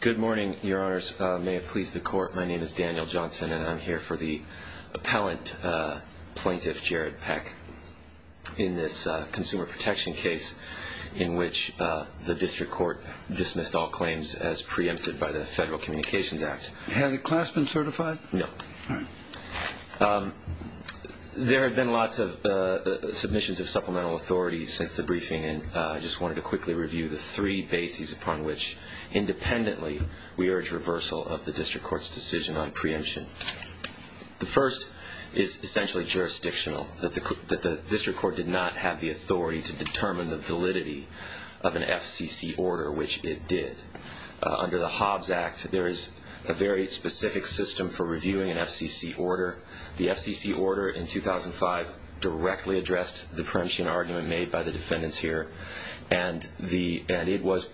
Good morning, your honors. May it please the court, my name is Daniel Johnson and I'm here for the appellant plaintiff, Jared Peck, in this consumer protection case in which the district court dismissed all claims as preempted by the Federal Communications Act. Had a class been certified? No. All right. There have been lots of submissions of supplemental authority since the briefing and I just wanted to quickly review the three bases upon which, independently, we urge reversal of the district court's decision on preemption. The first is essentially jurisdictional, that the district court did not have the authority to determine the validity of an FCC order, which it did. Under the Hobbs Act, there is a very specific system for reviewing an FCC order. The FCC order in 2005 directly addressed the preemption argument made by the defendants here and it was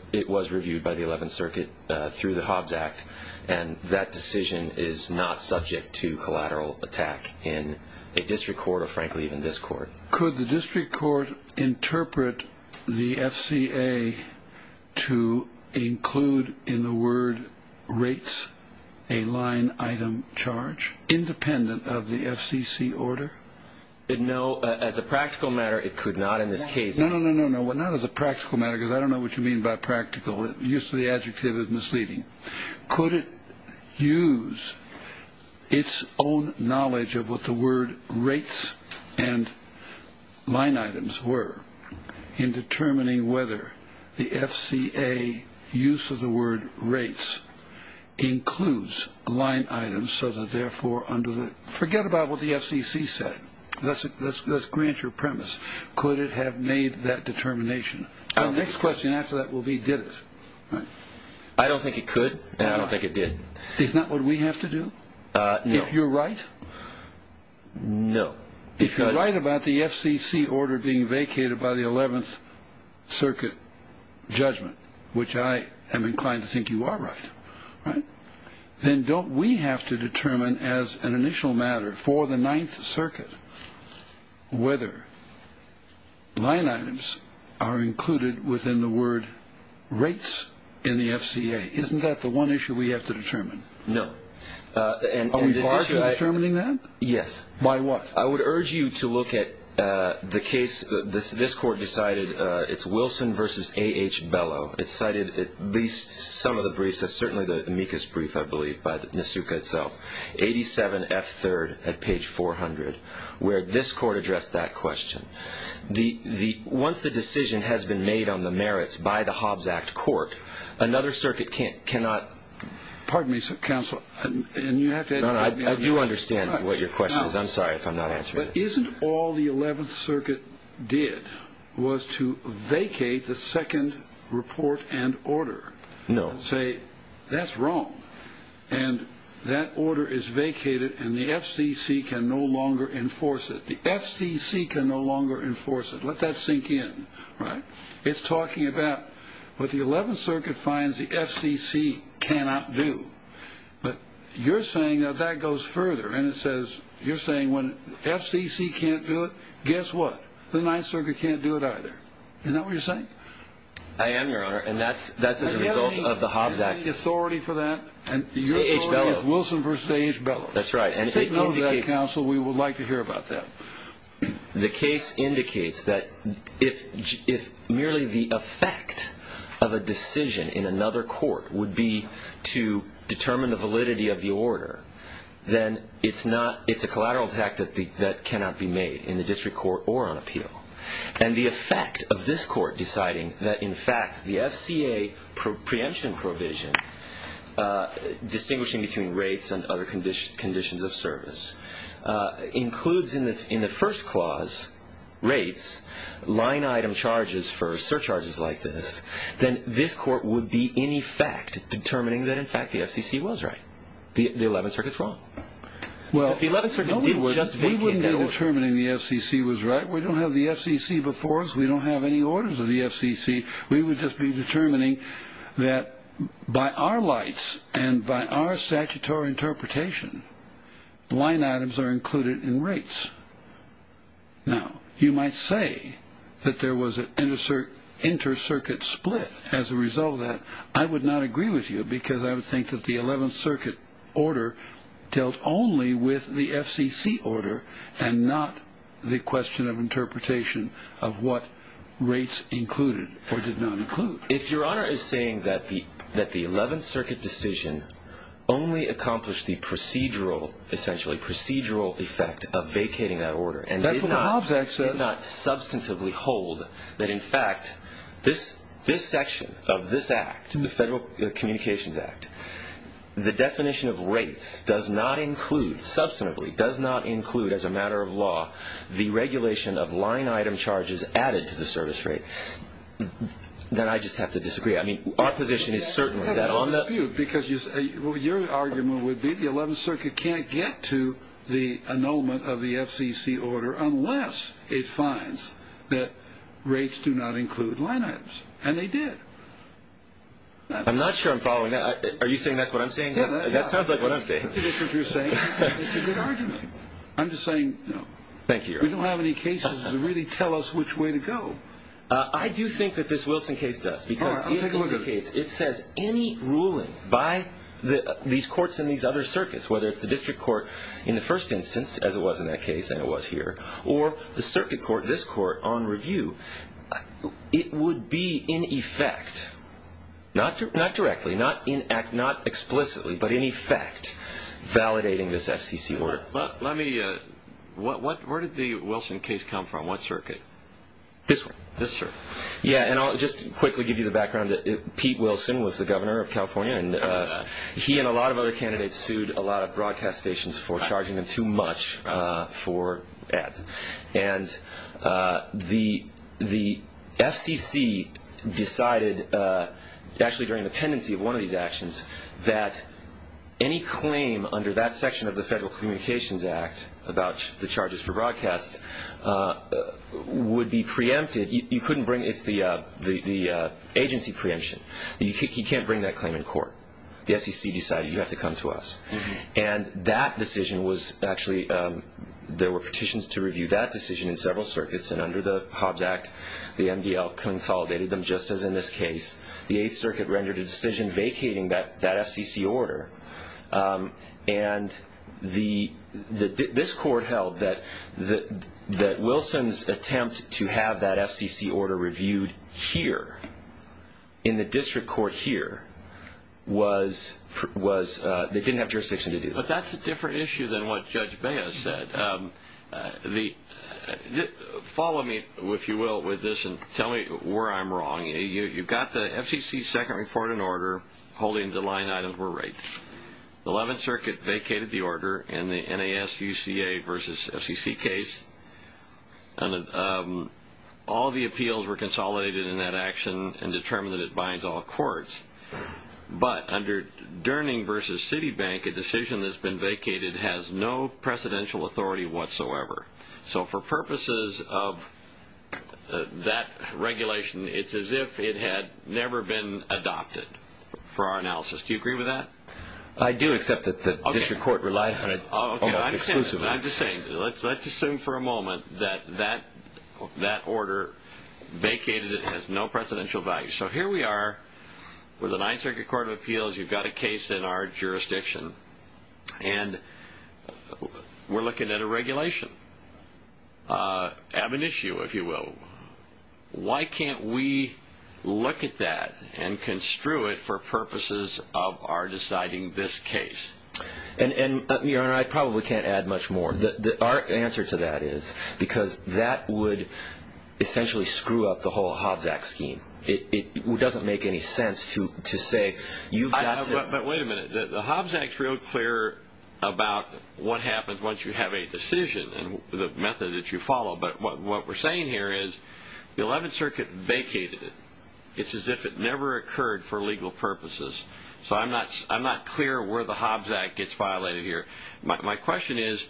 reviewed by the 11th Circuit through the Hobbs Act and that decision is not subject to collateral attack in a district court or frankly even this court. Could the district court interpret the FCA to include in the word rates a line item charge, independent of the FCC order? No, as a practical matter, it could not in this case. No, no, no, no, not as a practical matter because I don't know what you mean by practical. The use of the adjective is misleading. Could it use its own knowledge of what the word rates and line items were in determining whether the FCA use of the word rates includes line items so that therefore under the, forget about what the FCC said. Let's grant your premise. Could it have made that determination? Our next question after that will be did it? I don't think it could and I don't think it did. Is that what we have to do? No. If you're right? No. If you're right about the FCC order being vacated by the 11th Circuit judgment, which I am inclined to think you are right, then don't we have to determine as an initial matter for the 9th Circuit whether line items are included within the word rates in the FCA? Isn't that the one issue we have to determine? No. Are we barred from determining that? Yes. By what? I would urge you to look at the case. This Court decided it's Wilson v. A.H. Bellow. It cited at least some of the briefs. That's certainly the amicus brief, I believe, by Nisuka itself, 87F3rd at page 400, where this Court addressed that question. Once the decision has been made on the merits by the Hobbs Act Court, another circuit cannot ---- Pardon me, Counsel. I do understand what your question is. I'm sorry if I'm not answering it. But isn't all the 11th Circuit did was to vacate the second report and order? No. And say, that's wrong, and that order is vacated, and the FCC can no longer enforce it. The FCC can no longer enforce it. Let that sink in, right? It's talking about what the 11th Circuit finds the FCC cannot do. But you're saying that that goes further, and you're saying when FCC can't do it, guess what? The 9th Circuit can't do it either. Isn't that what you're saying? I am, Your Honor, and that's as a result of the Hobbs Act. Is there any authority for that? A.H. Bellow. Your authority is Wilson v. A.H. Bellow. That's right. If they know that, Counsel, we would like to hear about that. The case indicates that if merely the effect of a decision in another court would be to determine the validity of the order, then it's a collateral attack that cannot be made in the district court or on appeal. And the effect of this court deciding that, in fact, the FCA preemption provision, distinguishing between rates and other conditions of service, includes in the first clause rates, line-item charges for surcharges like this, then this court would be, in effect, determining that, in fact, the FCC was right. The 11th Circuit's wrong. If the 11th Circuit did just vacate that order. We wouldn't be determining the FCC was right. We don't have the FCC before us. We don't have any orders of the FCC. We would just be determining that, by our lights and by our statutory interpretation, line items are included in rates. Now, you might say that there was an inter-circuit split as a result of that. I would not agree with you because I would think that the 11th Circuit order dealt only with the FCC order and not the question of interpretation of what rates included or did not include. If Your Honor is saying that the 11th Circuit decision only accomplished the procedural, essentially procedural effect of vacating that order and did not substantively hold that, in fact, this section of this act, the Federal Communications Act, the definition of rates does not include, substantively, does not include, as a matter of law, the regulation of line item charges added to the service rate, then I just have to disagree. I mean, our position is certainly that on the... I have no dispute because your argument would be the 11th Circuit can't get to the annulment of the FCC order unless it finds that rates do not include line items. And they did. I'm not sure I'm following that. Are you saying that's what I'm saying? Yeah. That sounds like what I'm saying. I think that's what you're saying. It's a good argument. I'm just saying, you know... Thank you, Your Honor. ...we don't have any cases that really tell us which way to go. I do think that this Wilson case does because... All right, I'll take a look at it. ...it says any ruling by these courts in these other circuits, whether it's the District Court in the first instance, as it was in that case and it was here, or the Circuit Court, this court, on review, it would be in effect, not directly, not explicitly, but in effect validating this FCC order. Let me... Where did the Wilson case come from? What circuit? This one. This one. Yeah, and I'll just quickly give you the background. Pete Wilson was the governor of California, and he and a lot of other candidates sued a lot of broadcast stations for charging them too much for ads. And the FCC decided actually during the pendency of one of these actions that any claim under that section of the Federal Communications Act about the charges for broadcasts would be preempted. You couldn't bring... It's the agency preemption. You can't bring that claim in court. The FCC decided you have to come to us. And that decision was actually... There were petitions to review that decision in several circuits, and under the Hobbs Act the MDL consolidated them just as in this case. The Eighth Circuit rendered a decision vacating that FCC order. And this court held that Wilson's attempt to have that FCC order reviewed here in the district court here didn't have jurisdiction to do that. But that's a different issue than what Judge Baez said. Follow me, if you will, with this and tell me where I'm wrong. You've got the FCC's second report in order holding the line items were right. The Eleventh Circuit vacated the order in the NASUCA versus FCC case. All the appeals were consolidated in that action and determined that it binds all courts. But under Durning versus Citibank, a decision that's been vacated has no presidential authority whatsoever. So for purposes of that regulation, it's as if it had never been adopted for our analysis. Do you agree with that? I do accept that the district court relied on it almost exclusively. I'm just saying, let's assume for a moment that that order vacated it has no presidential value. So here we are with a Ninth Circuit Court of Appeals. You've got a case in our jurisdiction. And we're looking at a regulation. Ab initio, if you will. Why can't we look at that and construe it for purposes of our deciding this case? Your Honor, I probably can't add much more. Our answer to that is because that would essentially screw up the whole Hobbs Act scheme. It doesn't make any sense to say you've got to... But wait a minute. The Hobbs Act's real clear about what happens once you have a decision and the method that you follow. But what we're saying here is the Eleventh Circuit vacated it. It's as if it never occurred for legal purposes. So I'm not clear where the Hobbs Act gets violated here. My question is,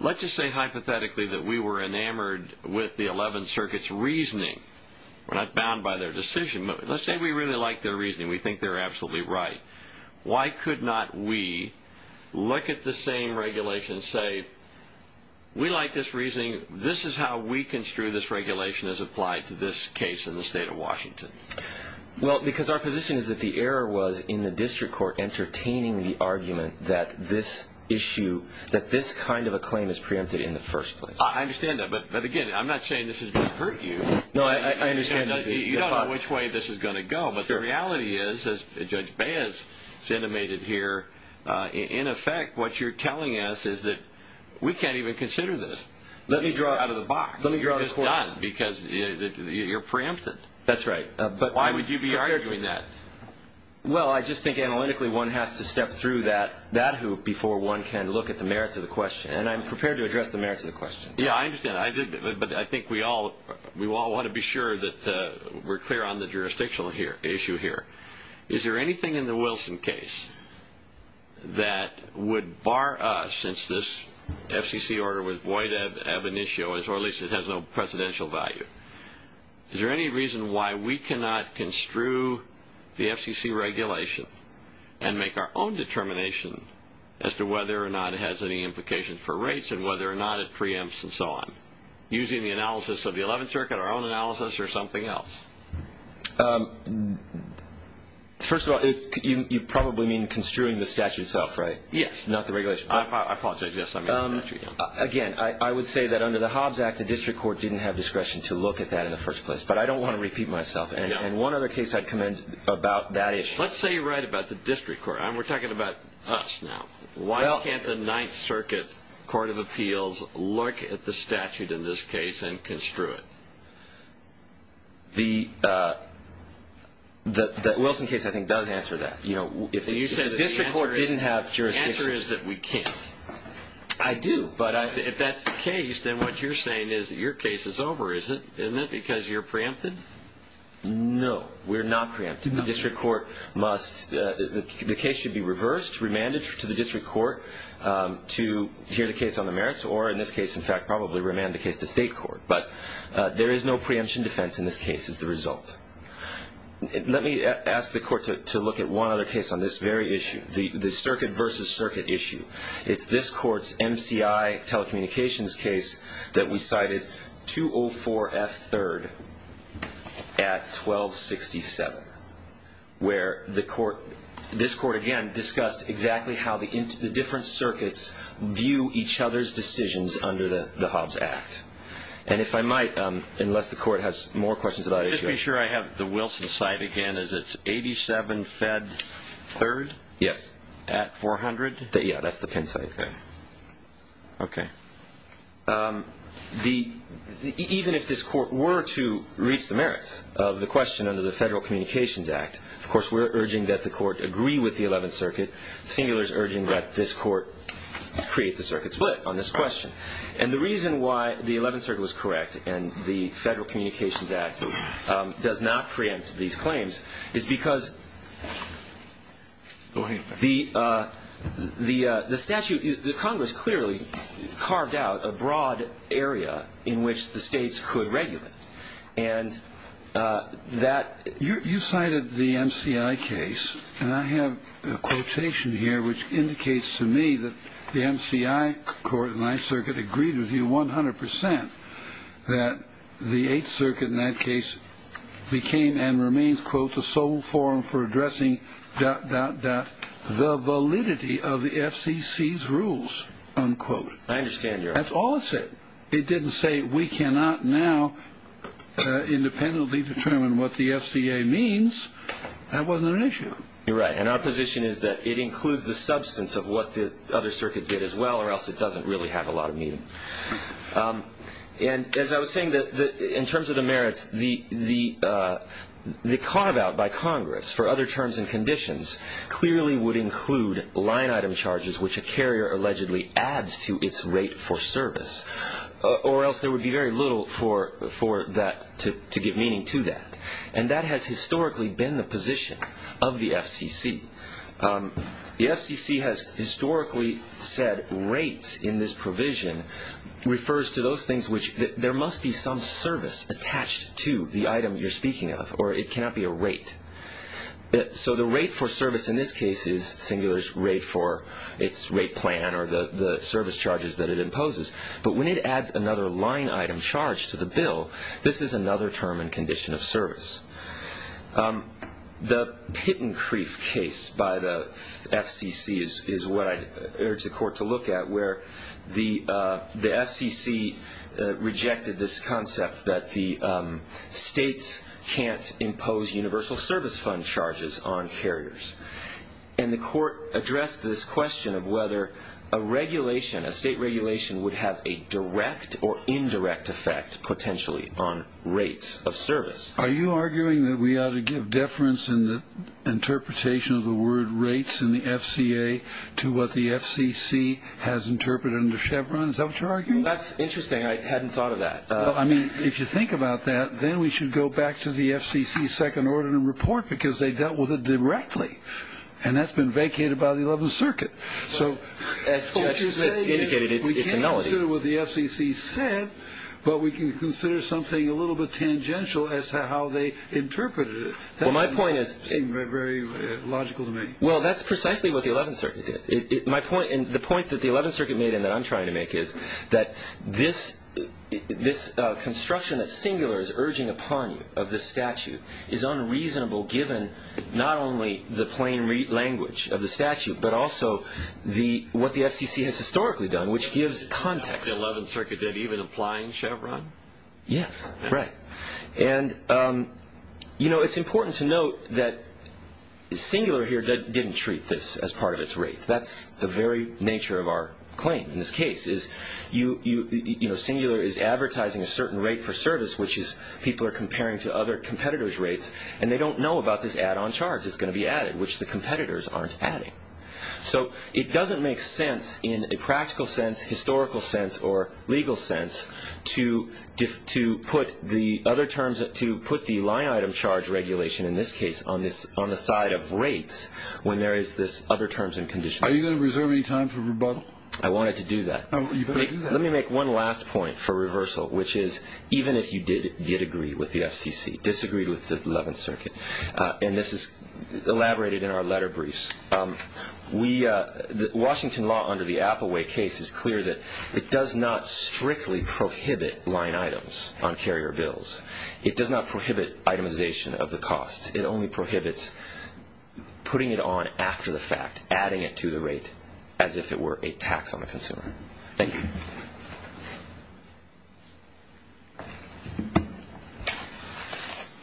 let's just say hypothetically that we were enamored with the Eleventh Circuit's reasoning. We're not bound by their decision. Let's say we really like their reasoning. We think they're absolutely right. Why could not we look at the same regulation and say, we like this reasoning. This is how we construe this regulation as applied to this case in the state of Washington? Well, because our position is that the error was in the district court entertaining the argument that this issue, that this kind of a claim is preempted in the first place. I understand that. But again, I'm not saying this is going to hurt you. No, I understand. You don't know which way this is going to go. But the reality is, as Judge Baez has intimated here, in effect what you're telling us is that we can't even consider this. Let me draw it out of the box. It's done because you're preempted. That's right. Why would you be arguing that? Well, I just think analytically one has to step through that hoop before one can look at the merits of the question. And I'm prepared to address the merits of the question. Yeah, I understand. But I think we all want to be sure that we're clear on the jurisdictional issue here. Is there anything in the Wilson case that would bar us since this FCC order was void ab initio, or at least it has no presidential value? Is there any reason why we cannot construe the FCC regulation and make our own determination as to whether or not it has any implication for rates and whether or not it preempts and so on using the analysis of the Eleventh Circuit, our own analysis, or something else? First of all, you probably mean construing the statute itself, right? Yes. I apologize. Yes, I mean the statute. Again, I would say that under the Hobbs Act, the district court didn't have discretion to look at that in the first place. But I don't want to repeat myself. And one other case I'd commend about that issue. Let's say you're right about the district court. We're talking about us now. Why can't the Ninth Circuit Court of Appeals look at the statute in this case and construe it? The Wilson case, I think, does answer that. If the district court didn't have jurisdiction. The answer is that we can't. I do. But if that's the case, then what you're saying is that your case is over, isn't it, because you're preempted? No, we're not preempted. The case should be reversed, remanded to the district court to hear the case on the merits, or in this case, in fact, probably remand the case to state court. But there is no preemption defense in this case as the result. Let me ask the court to look at one other case on this very issue, the circuit versus circuit issue. It's this court's MCI telecommunications case that we cited, 204F3rd at 1267, where this court, again, discussed exactly how the different circuits view each other's decisions under the Hobbs Act. And if I might, unless the court has more questions about that issue. Just to be sure, I have the Wilson side again. Is it 87F3rd at 400? Yeah, that's the Penn side. Okay. Even if this court were to reach the merits of the question under the Federal Communications Act, of course, we're urging that the court agree with the Eleventh Circuit. Singular is urging that this court create the circuit split on this question. And the reason why the Eleventh Circuit was correct and the Federal Communications Act does not preempt these claims is because the statute, the Congress clearly carved out a broad area in which the states could regulate. And that you cited the MCI case. And I have a quotation here which indicates to me that the MCI court and Ninth Circuit agreed with you 100 percent that the Eighth Circuit in that case became and remains, quote, the sole forum for addressing, dot, dot, dot, the validity of the FCC's rules, unquote. I understand, Your Honor. That's all it said. It didn't say we cannot now independently determine what the FCA means. That wasn't an issue. You're right. And our position is that it includes the substance of what the other circuit did as well, or else it doesn't really have a lot of meaning. And as I was saying, in terms of the merits, the carve-out by Congress for other terms and conditions clearly would include line-item charges, which a carrier allegedly adds to its rate for service, or else there would be very little to give meaning to that. And that has historically been the position of the FCC. The FCC has historically said rates in this provision refers to those things which there must be some service attached to the item you're speaking of, or it cannot be a rate. So the rate for service in this case is Singular's rate for its rate plan or the service charges that it imposes. But when it adds another line-item charge to the bill, this is another term and condition of service. The Pittencrieff case by the FCC is what I urge the Court to look at, where the FCC rejected this concept that the states can't impose universal service fund charges on carriers. And the Court addressed this question of whether a regulation, a state regulation, would have a direct or indirect effect potentially on rates of service. Are you arguing that we ought to give deference in the interpretation of the word rates in the FCA to what the FCC has interpreted under Chevron? Is that what you're arguing? That's interesting. I hadn't thought of that. Well, I mean, if you think about that, then we should go back to the FCC's second ordinance report because they dealt with it directly, and that's been vacated by the 11th Circuit. As Judge Smith indicated, it's a melody. We can consider what the FCC said, but we can consider something a little bit tangential as to how they interpreted it. That doesn't seem very logical to me. Well, that's precisely what the 11th Circuit did. The point that the 11th Circuit made and that I'm trying to make is that this construction that's singular is urging upon you of this statute is unreasonable given not only the plain language of the statute but also what the FCC has historically done, which gives context. The 11th Circuit didn't even apply in Chevron? Yes, right. It's important to note that singular here didn't treat this as part of its rate. That's the very nature of our claim in this case. Singular is advertising a certain rate for service, which people are comparing to other competitors' rates, and they don't know about this add-on charge that's going to be added, which the competitors aren't adding. So it doesn't make sense in a practical sense, historical sense, or legal sense to put the line-item charge regulation in this case on the side of rates when there is this other terms and conditions. Are you going to reserve any time for rebuttal? I wanted to do that. You better do that. Let me make one last point for reversal, which is even if you did agree with the FCC, disagreed with the 11th Circuit, and this is elaborated in our letter briefs, Washington law under the Appleway case is clear that it does not strictly prohibit line items on carrier bills. It does not prohibit itemization of the costs. It only prohibits putting it on after the fact, adding it to the rate as if it were a tax on the consumer. Thank you.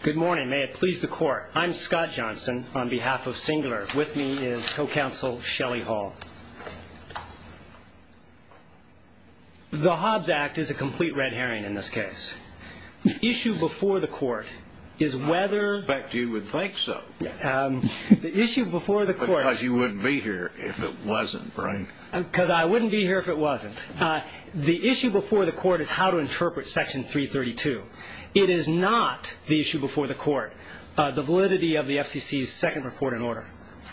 Good morning. May it please the Court. I'm Scott Johnson on behalf of Singler. With me is Co-Counsel Shelley Hall. The Hobbs Act is a complete red herring in this case. The issue before the Court is whether the issue before the Court. Because you wouldn't be here if it wasn't, right? Because I wouldn't be here if it wasn't. The issue before the Court is how to interpret Section 332. It is not the issue before the Court, the validity of the FCC's second report in order.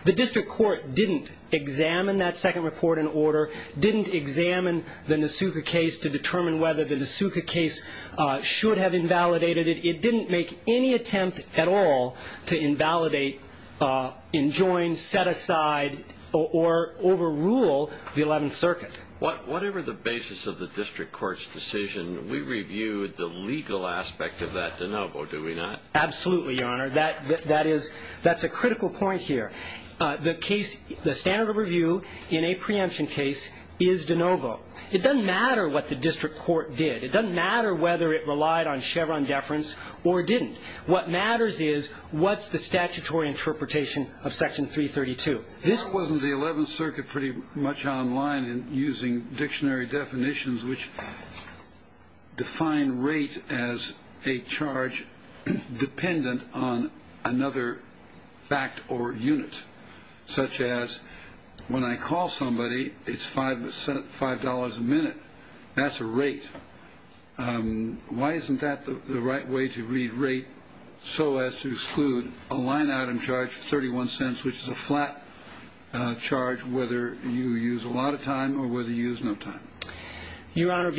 The district court didn't examine that second report in order, didn't examine the Nasuka case to determine whether the Nasuka case should have invalidated it. It didn't make any attempt at all to invalidate, enjoin, set aside, or overrule the Eleventh Circuit. Whatever the basis of the district court's decision, we reviewed the legal aspect of that de novo, do we not? Absolutely, Your Honor. That is a critical point here. The standard of review in a preemption case is de novo. It doesn't matter what the district court did. It doesn't matter whether it relied on Chevron deference or didn't. What matters is what's the statutory interpretation of Section 332. This wasn't the Eleventh Circuit pretty much online and using dictionary definitions which define rate as a charge dependent on another fact or unit, such as when I call somebody, it's $5 a minute. That's a rate. Why isn't that the right way to read rate so as to exclude a line-item charge of 31 cents, which is a flat charge whether you use a lot of time or whether you use no time? Your Honor,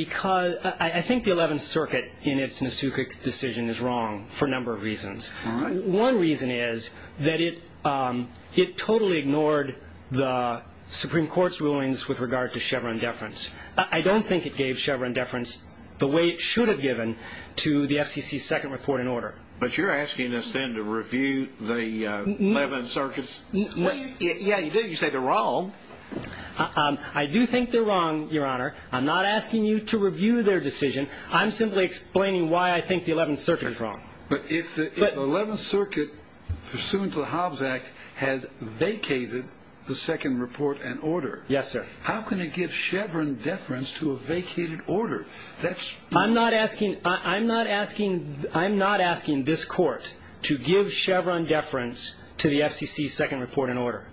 I think the Eleventh Circuit in its Nasuka decision is wrong for a number of reasons. One reason is that it totally ignored the Supreme Court's rulings with regard to Chevron deference. I don't think it gave Chevron deference the way it should have given to the FCC's second report in order. But you're asking us then to review the Eleventh Circuit's? Yeah, you do. You say they're wrong. I do think they're wrong, Your Honor. I'm not asking you to review their decision. I'm simply explaining why I think the Eleventh Circuit is wrong. But if the Eleventh Circuit, pursuant to the Hobbs Act, has vacated the second report in order, how can it give Chevron deference to a vacated order? I'm not asking this Court to give Chevron deference to the FCC's second report in order.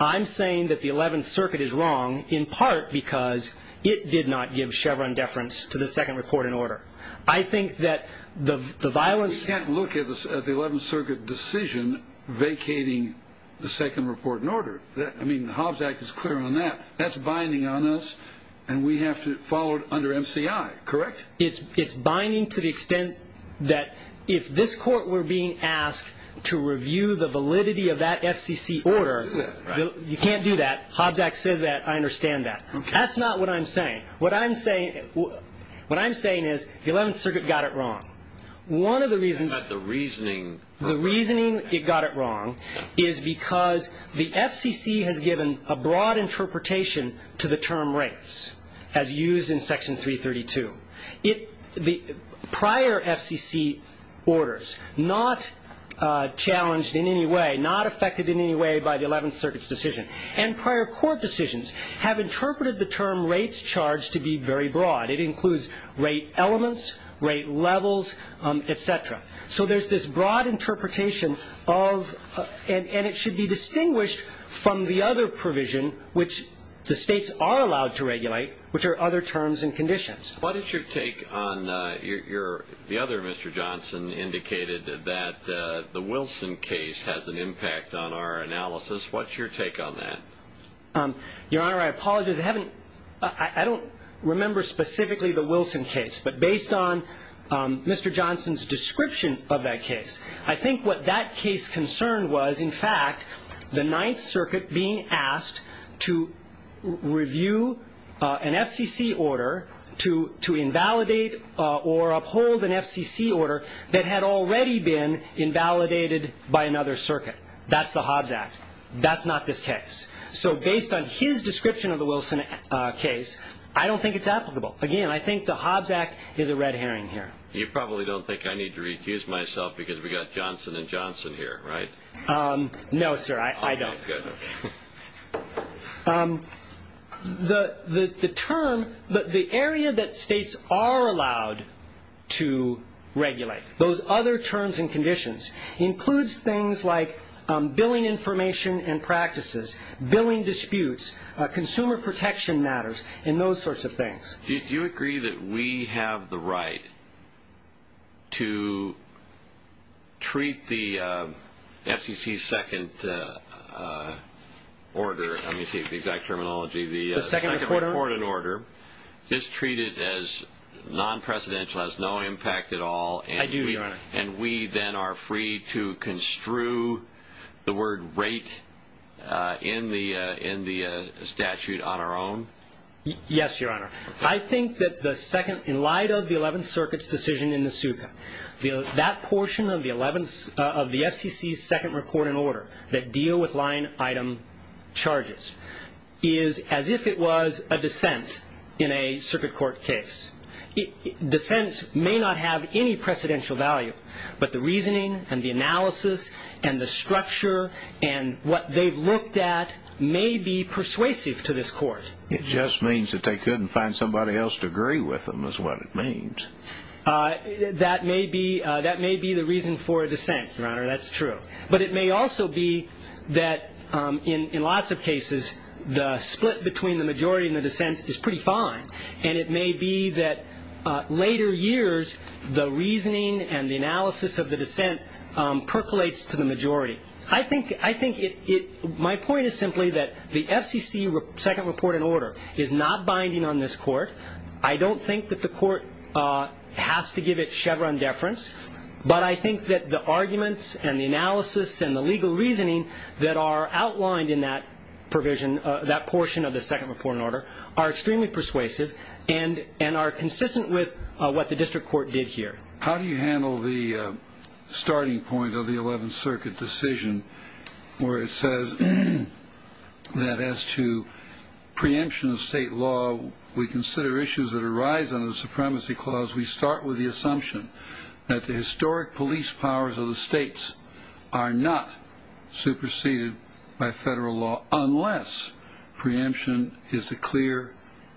I'm saying that the Eleventh Circuit is wrong in part because it did not give Chevron deference to the second report in order. We can't look at the Eleventh Circuit decision vacating the second report in order. The Hobbs Act is clear on that. That's binding on us, and we have to follow it under MCI, correct? It's binding to the extent that if this Court were being asked to review the validity of that FCC order, you can't do that. Hobbs Act says that. I understand that. That's not what I'm saying. What I'm saying is the Eleventh Circuit got it wrong. One of the reasons the reasoning it got it wrong is because the FCC has given a broad interpretation to the term rates, as used in Section 332. The prior FCC orders, not challenged in any way, not affected in any way by the Eleventh Circuit's decision, and prior Court decisions have interpreted the term rates charged to be very broad. It includes rate elements, rate levels, et cetera. So there's this broad interpretation of, and it should be distinguished from the other provision, which the states are allowed to regulate, which are other terms and conditions. What is your take on your, the other Mr. Johnson indicated that the Wilson case has an impact on our analysis. What's your take on that? Your Honor, I apologize. I haven't, I don't remember specifically the Wilson case, but based on Mr. Johnson's description of that case, I think what that case concerned was, in fact, the Ninth Circuit being asked to review an FCC order to invalidate or uphold an FCC order that had already been invalidated by another circuit. That's the Hobbs Act. That's not this case. So based on his description of the Wilson case, I don't think it's applicable. Again, I think the Hobbs Act is a red herring here. You probably don't think I need to recuse myself because we've got Johnson and Johnson here, right? No, sir, I don't. Okay, good. The term, the area that states are allowed to regulate, those other terms and conditions, includes things like billing information and practices, billing disputes, consumer protection matters, and those sorts of things. Do you agree that we have the right to treat the FCC's second order, let me see the exact terminology, the second record and order, just treat it as non-presidential, has no impact at all. I do, Your Honor. And we then are free to construe the word rate in the statute on our own? Yes, Your Honor. I think that the second, in light of the Eleventh Circuit's decision in the SUCA, that portion of the FCC's second record and order that deal with line item charges is as if it was a dissent in a circuit court case. Dissents may not have any precedential value, but the reasoning and the analysis and the structure and what they've looked at may be persuasive to this court. It just means that they couldn't find somebody else to agree with them is what it means. That may be the reason for a dissent, Your Honor, that's true. But it may also be that in lots of cases the split between the majority and the dissent is pretty fine, and it may be that later years the reasoning and the analysis of the dissent percolates to the majority. I think my point is simply that the FCC second record and order is not binding on this court. I don't think that the court has to give it Chevron deference, but I think that the arguments and the analysis and the legal reasoning that are outlined in that provision, that portion of the second record and order, are extremely persuasive and are consistent with what the district court did here. How do you handle the starting point of the 11th Circuit decision where it says that as to preemption of state law, we consider issues that arise under the Supremacy Clause, we start with the assumption that the historic police powers of the states are not superseded by federal law unless preemption is the clear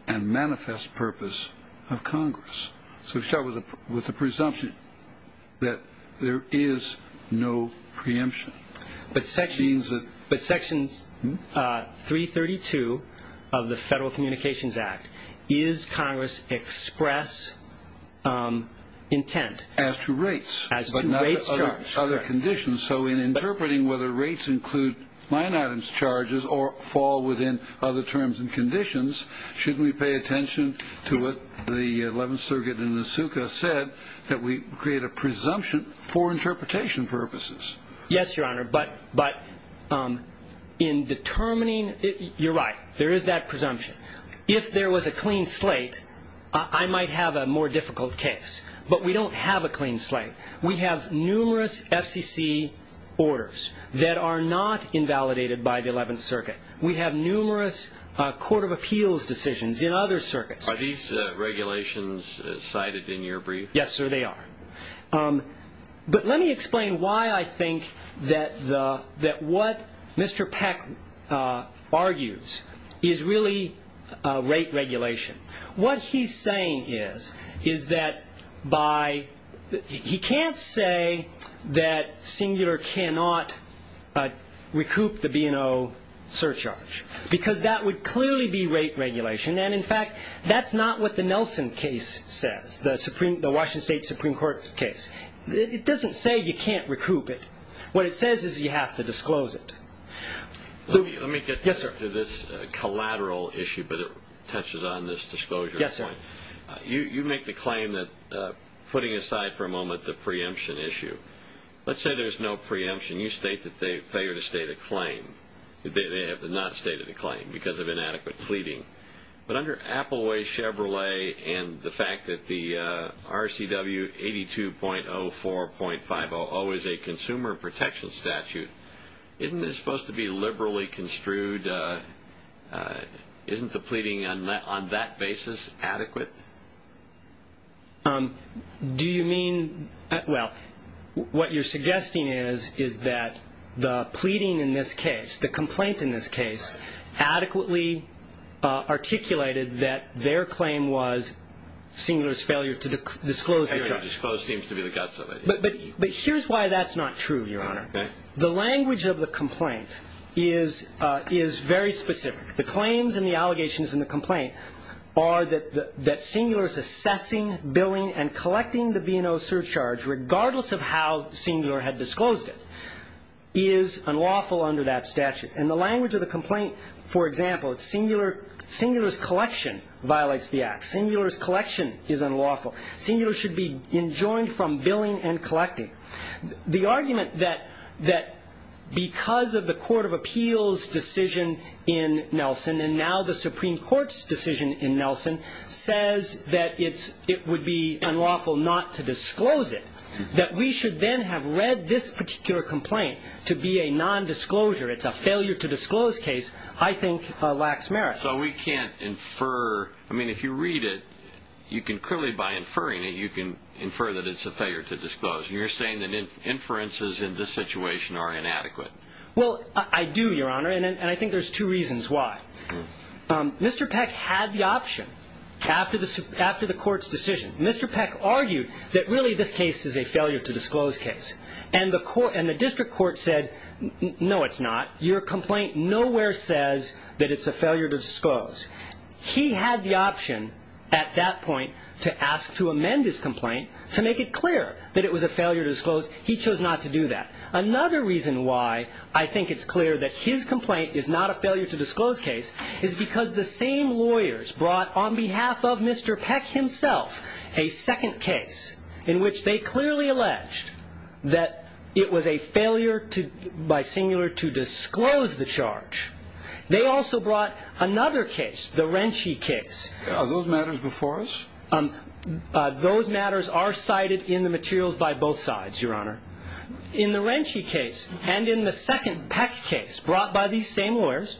and manifest purpose of Congress. So we start with the presumption that there is no preemption. But Section 332 of the Federal Communications Act, is Congress express intent? As to rates. As to rates charged. Other conditions. So in interpreting whether rates include line items charges or fall within other terms and conditions, shouldn't we pay attention to what the 11th Circuit in the SUCA said, that we create a presumption for interpretation purposes? Yes, Your Honor. But in determining, you're right, there is that presumption. If there was a clean slate, I might have a more difficult case. But we don't have a clean slate. We have numerous FCC orders that are not invalidated by the 11th Circuit. We have numerous Court of Appeals decisions in other circuits. Are these regulations cited in your brief? Yes, sir, they are. But let me explain why I think that what Mr. Peck argues is really rate regulation. What he's saying is that by he can't say that Singular cannot recoup the B&O surcharge. Because that would clearly be rate regulation. And, in fact, that's not what the Nelson case says, the Washington State Supreme Court case. It doesn't say you can't recoup it. What it says is you have to disclose it. Let me get to this collateral issue. But it touches on this disclosure point. Yes, sir. You make the claim that, putting aside for a moment the preemption issue. Let's say there's no preemption. You state that they failed to state a claim. They have not stated a claim because of inadequate pleading. But under Apple Way, Chevrolet, and the fact that the RCW 82.04.500 is a consumer protection statute, isn't this supposed to be liberally construed? And isn't the pleading on that basis adequate? Do you mean? Well, what you're suggesting is that the pleading in this case, the complaint in this case, adequately articulated that their claim was Singular's failure to disclose it. Failure to disclose seems to be the guts of it. But here's why that's not true, Your Honor. The language of the complaint is very specific. The claims and the allegations in the complaint are that Singular's assessing, billing, and collecting the B&O surcharge, regardless of how Singular had disclosed it, is unlawful under that statute. And the language of the complaint, for example, it's Singular's collection violates the act. Singular's collection is unlawful. Singular should be enjoined from billing and collecting. The argument that because of the Court of Appeals' decision in Nelson and now the Supreme Court's decision in Nelson says that it would be unlawful not to disclose it, that we should then have read this particular complaint to be a nondisclosure, it's a failure to disclose case, I think lacks merit. So we can't infer. I mean, if you read it, you can clearly, by inferring it, you can infer that it's a failure to disclose. You're saying that inferences in this situation are inadequate. Well, I do, Your Honor, and I think there's two reasons why. Mr. Peck had the option after the Court's decision. Mr. Peck argued that really this case is a failure to disclose case. And the district court said, no, it's not. He had the option at that point to ask to amend his complaint to make it clear that it was a failure to disclose. He chose not to do that. Another reason why I think it's clear that his complaint is not a failure to disclose case is because the same lawyers brought on behalf of Mr. Peck himself a second case in which they clearly alleged that it was a failure by Singular to disclose the charge. They also brought another case, the Rentsch case. Are those matters before us? Those matters are cited in the materials by both sides, Your Honor. In the Rentsch case and in the second Peck case brought by these same lawyers,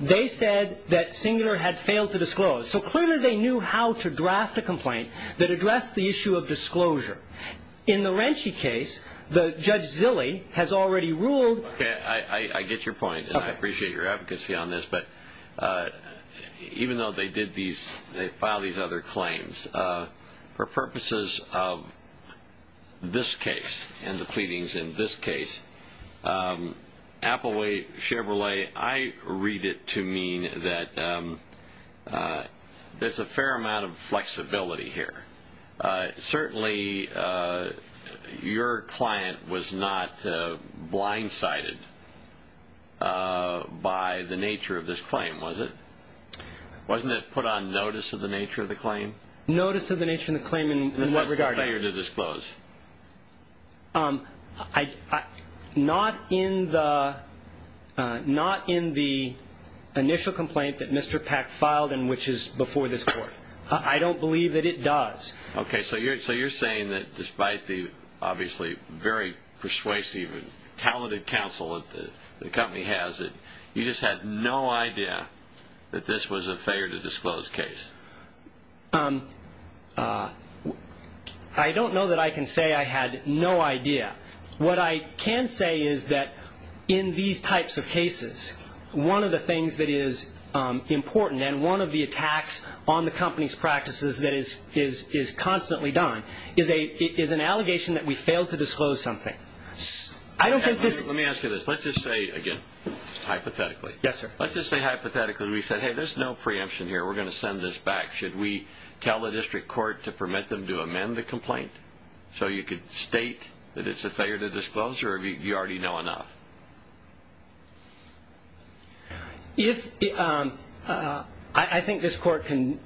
they said that Singular had failed to disclose. So clearly they knew how to draft a complaint that addressed the issue of disclosure. In the Rentsch case, Judge Zille has already ruled. Okay, I get your point, and I appreciate your advocacy on this. But even though they did these, they filed these other claims, for purposes of this case and the pleadings in this case, Applewood Chevrolet, I read it to mean that there's a fair amount of flexibility here. Certainly your client was not blindsided by the nature of this claim, was it? Wasn't it put on notice of the nature of the claim? Notice of the nature of the claim in what regard? A failure to disclose. Not in the initial complaint that Mr. Peck filed and which is before this Court. I don't believe that it does. Okay, so you're saying that despite the obviously very persuasive and talented counsel that the company has, you just had no idea that this was a failure to disclose case? I don't know that I can say I had no idea. One of the things that is important, and one of the attacks on the company's practices that is constantly done, is an allegation that we failed to disclose something. Let me ask you this. Let's just say, again, hypothetically. Let's just say hypothetically we said, hey, there's no preemption here. We're going to send this back. Should we tell the district court to permit them to amend the complaint so you could state that it's a failure to disclose or you already know enough? I think this Court can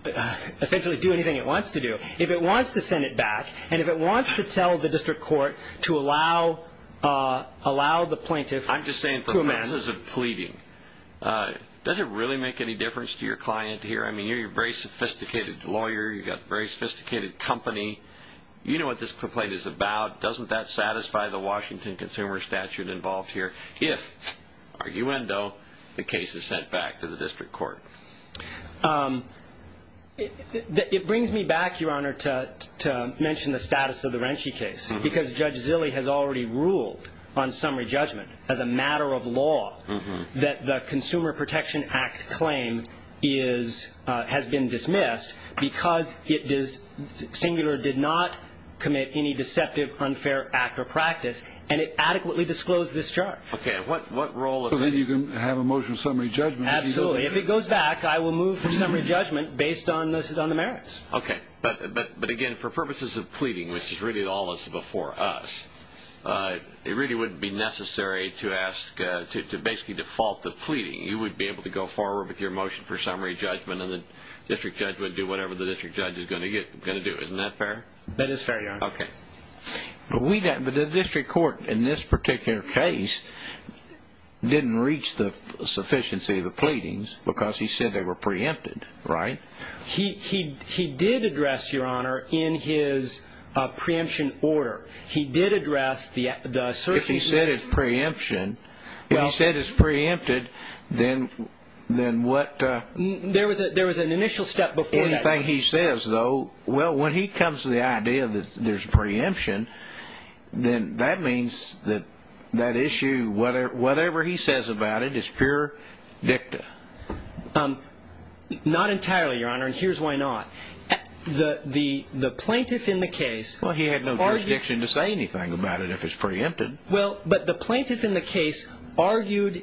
essentially do anything it wants to do. If it wants to send it back and if it wants to tell the district court to allow the plaintiff to amend it. I'm just saying for purposes of pleading, does it really make any difference to your client here? I mean, you're a very sophisticated lawyer. You've got a very sophisticated company. You know what this complaint is about. Doesn't that satisfy the Washington Consumer Statute involved here? If, arguendo, the case is sent back to the district court. It brings me back, Your Honor, to mention the status of the Renshie case because Judge Zille has already ruled on summary judgment as a matter of law that the Consumer Protection Act claim has been dismissed because Singular did not commit any deceptive, unfair act or practice, and it adequately disclosed this charge. Okay. So then you can have a motion of summary judgment. Absolutely. If it goes back, I will move for summary judgment based on the merits. Okay. But, again, for purposes of pleading, which is really all that's before us, it really wouldn't be necessary to basically default the pleading. You would be able to go forward with your motion for summary judgment and the district judge would do whatever the district judge is going to do. Isn't that fair? That is fair, Your Honor. Okay. But the district court in this particular case didn't reach the sufficiency of the pleadings because he said they were preempted, right? He did address, Your Honor, in his preemption order. He did address the sufficiency. If he said it's preemption, if he said it's preempted, then what? There was an initial step before that. Anything he says, though, well, when he comes to the idea that there's preemption, then that means that that issue, whatever he says about it, is pure dicta. Not entirely, Your Honor, and here's why not. The plaintiff in the case. Well, he had no jurisdiction to say anything about it if it's preempted. Well, but the plaintiff in the case argued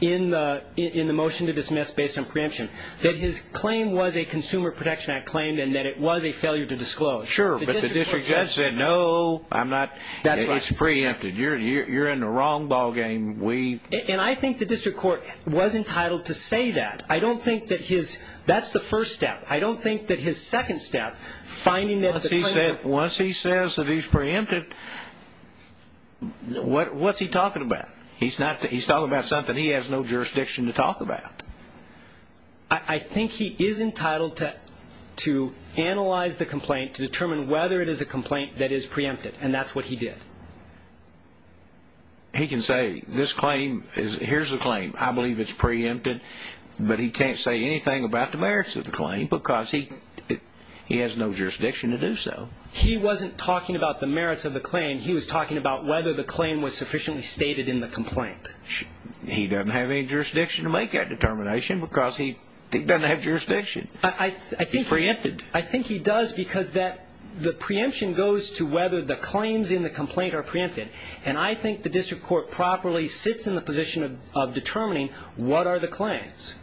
in the motion to dismiss based on preemption that his claim was a Consumer Protection Act claim and that it was a failure to disclose. Sure, but the district judge said, no, it's preempted. You're in the wrong ballgame. And I think the district court was entitled to say that. I don't think that that's the first step. I don't think that his second step, finding that the claim was preempted. Once he says that he's preempted, what's he talking about? He's talking about something he has no jurisdiction to talk about. I think he is entitled to analyze the complaint to determine whether it is a complaint that is preempted, and that's what he did. He can say, this claim, here's the claim. I believe it's preempted, but he can't say anything about the merits of the claim, because he has no jurisdiction to do so. He wasn't talking about the merits of the claim. He was talking about whether the claim was sufficiently stated in the complaint. He doesn't have any jurisdiction to make that determination because he doesn't have jurisdiction. He's preempted. I think he does because the preemption goes to whether the claims in the complaint are preempted, and I think the district court properly sits in the position of determining what are the claims.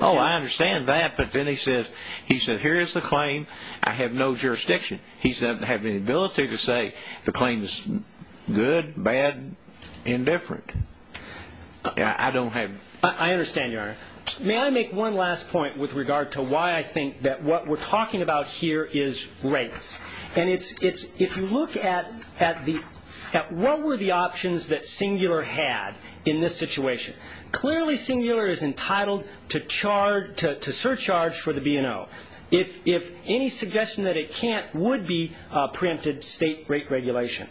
Oh, I understand that, but then he says, here's the claim. I have no jurisdiction. He doesn't have any ability to say the claim is good, bad, indifferent. I don't have... I understand, Your Honor. May I make one last point with regard to why I think that what we're talking about here is rates. If you look at what were the options that Singular had in this situation, clearly Singular is entitled to surcharge for the B&O. If any suggestion that it can't would be preempted state rate regulation.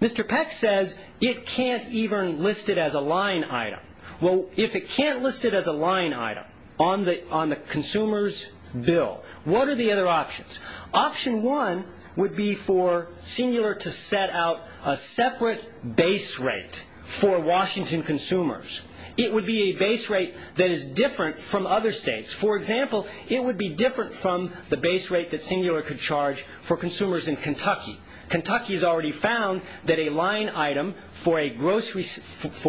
Mr. Peck says it can't even list it as a line item. Well, if it can't list it as a line item on the consumer's bill, what are the other options? Option one would be for Singular to set out a separate base rate for Washington consumers. It would be a base rate that is different from other states. For example, it would be different from the base rate that Singular could charge for consumers in Kentucky. Kentucky has already found that a line item for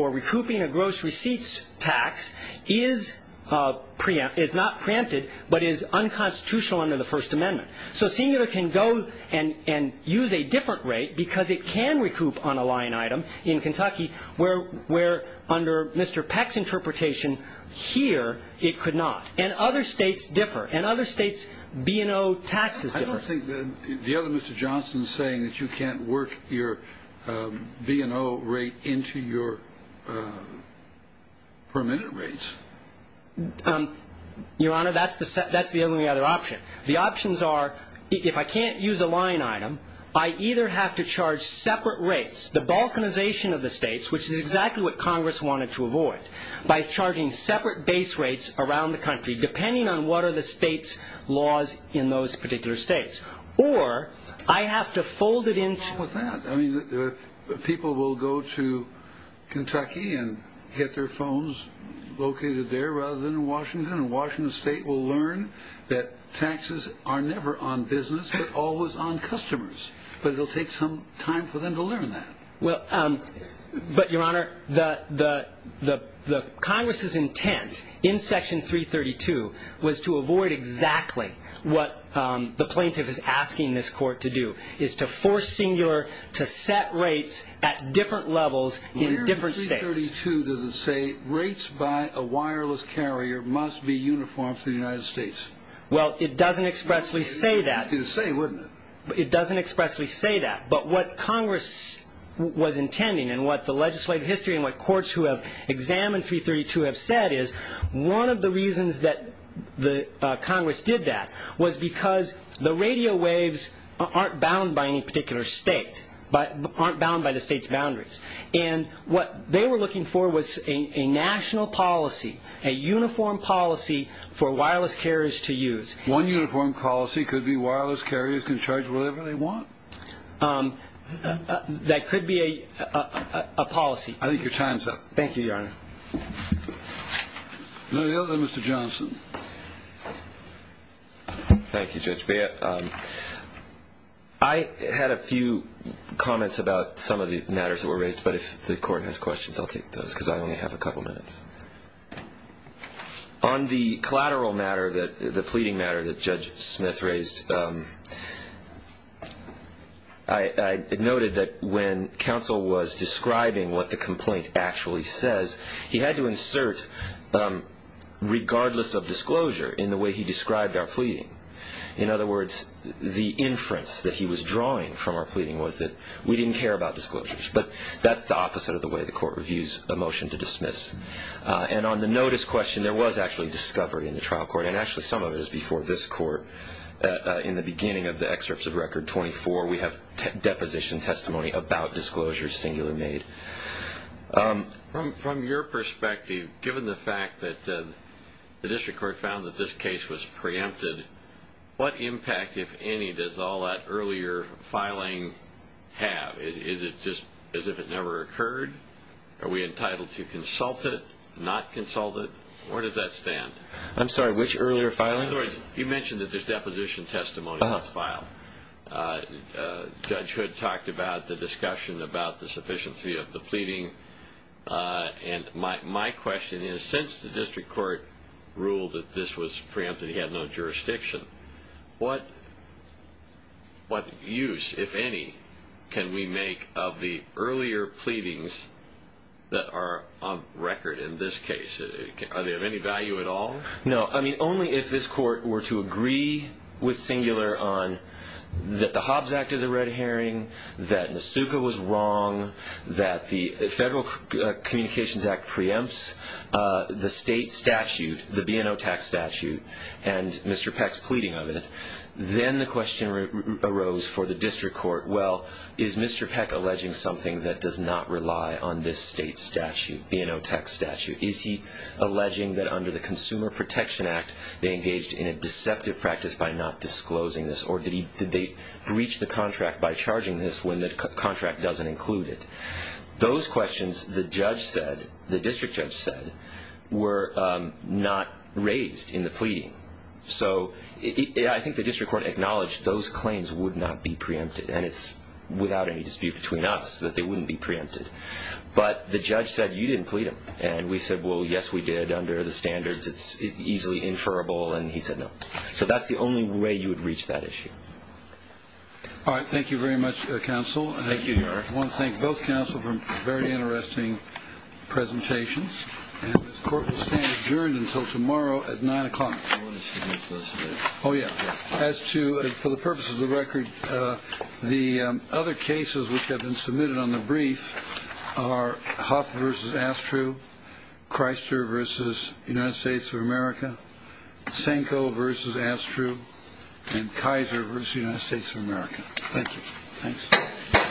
recouping a gross receipts tax is not preempted but is unconstitutional under the First Amendment. So Singular can go and use a different rate because it can recoup on a line item in Kentucky where under Mr. Peck's interpretation here it could not. And other states differ. In other states, B&O taxes differ. I don't think the other Mr. Johnson is saying that you can't work your B&O rate into your permitted rates. Your Honor, that's the only other option. The options are if I can't use a line item, I either have to charge separate rates, the balkanization of the states, which is exactly what Congress wanted to avoid, by charging separate base rates around the country depending on what are the state's laws in those particular states. Or I have to fold it into the- And Washington State will learn that taxes are never on business but always on customers. But it will take some time for them to learn that. But, Your Honor, Congress's intent in Section 332 was to avoid exactly what the plaintiff is asking this court to do, is to force Singular to set rates at different levels in different states. 332 doesn't say rates by a wireless carrier must be uniform for the United States. Well, it doesn't expressly say that. It would be the same, wouldn't it? It doesn't expressly say that. But what Congress was intending and what the legislative history and what courts who have examined 332 have said is one of the reasons that Congress did that was because the radio waves aren't bound by any particular state, aren't bound by the state's boundaries. And what they were looking for was a national policy, a uniform policy for wireless carriers to use. One uniform policy could be wireless carriers can charge whatever they want? That could be a policy. I think your time's up. Thank you, Your Honor. Is there anything else? Mr. Johnson. Thank you, Judge Bea. I had a few comments about some of the matters that were raised, but if the court has questions, I'll take those because I only have a couple minutes. On the collateral matter, the pleading matter that Judge Smith raised, I noted that when counsel was describing what the complaint actually says, he had to insert, regardless of disclosure, in the way he described our pleading. In other words, the inference that he was drawing from our pleading was that we didn't care about disclosures, but that's the opposite of the way the court reviews a motion to dismiss. And on the notice question, there was actually discovery in the trial court, and actually some of it is before this court in the beginning of the excerpts of Record 24. We have deposition testimony about disclosures singular made. From your perspective, given the fact that the district court found that this case was preempted, what impact, if any, does all that earlier filing have? Is it just as if it never occurred? Are we entitled to consult it, not consult it? Where does that stand? I'm sorry, which earlier filings? You mentioned that there's deposition testimony that's filed. Judge Hood talked about the discussion about the sufficiency of the pleading. And my question is, since the district court ruled that this was preempted, he had no jurisdiction, what use, if any, can we make of the earlier pleadings that are on record in this case? Are they of any value at all? No. I mean, only if this court were to agree with singular on that the Hobbs Act is a red herring, that Nasuka was wrong, that the Federal Communications Act preempts the state statute, the B&O tax statute, and Mr. Peck's pleading of it. Then the question arose for the district court, well, is Mr. Peck alleging something that does not rely on this state statute, B&O tax statute? Is he alleging that under the Consumer Protection Act they engaged in a deceptive practice by not disclosing this, or did they breach the contract by charging this when the contract doesn't include it? Those questions, the judge said, the district judge said, were not raised in the pleading. So I think the district court acknowledged those claims would not be preempted, and it's without any dispute between us that they wouldn't be preempted. But the judge said, you didn't plead him. And we said, well, yes, we did under the standards. It's easily inferable. And he said no. So that's the only way you would reach that issue. All right. Thank you very much, counsel. Thank you, Your Honor. I want to thank both counsel for very interesting presentations. And this court will stand adjourned until tomorrow at 9 o'clock. Oh, yeah. As to, for the purposes of the record, the other cases which have been submitted on the brief are Hoff v. Astru, Chrysler v. United States of America, Senko v. Astru, and Kaiser v. United States of America. Thank you. Thanks.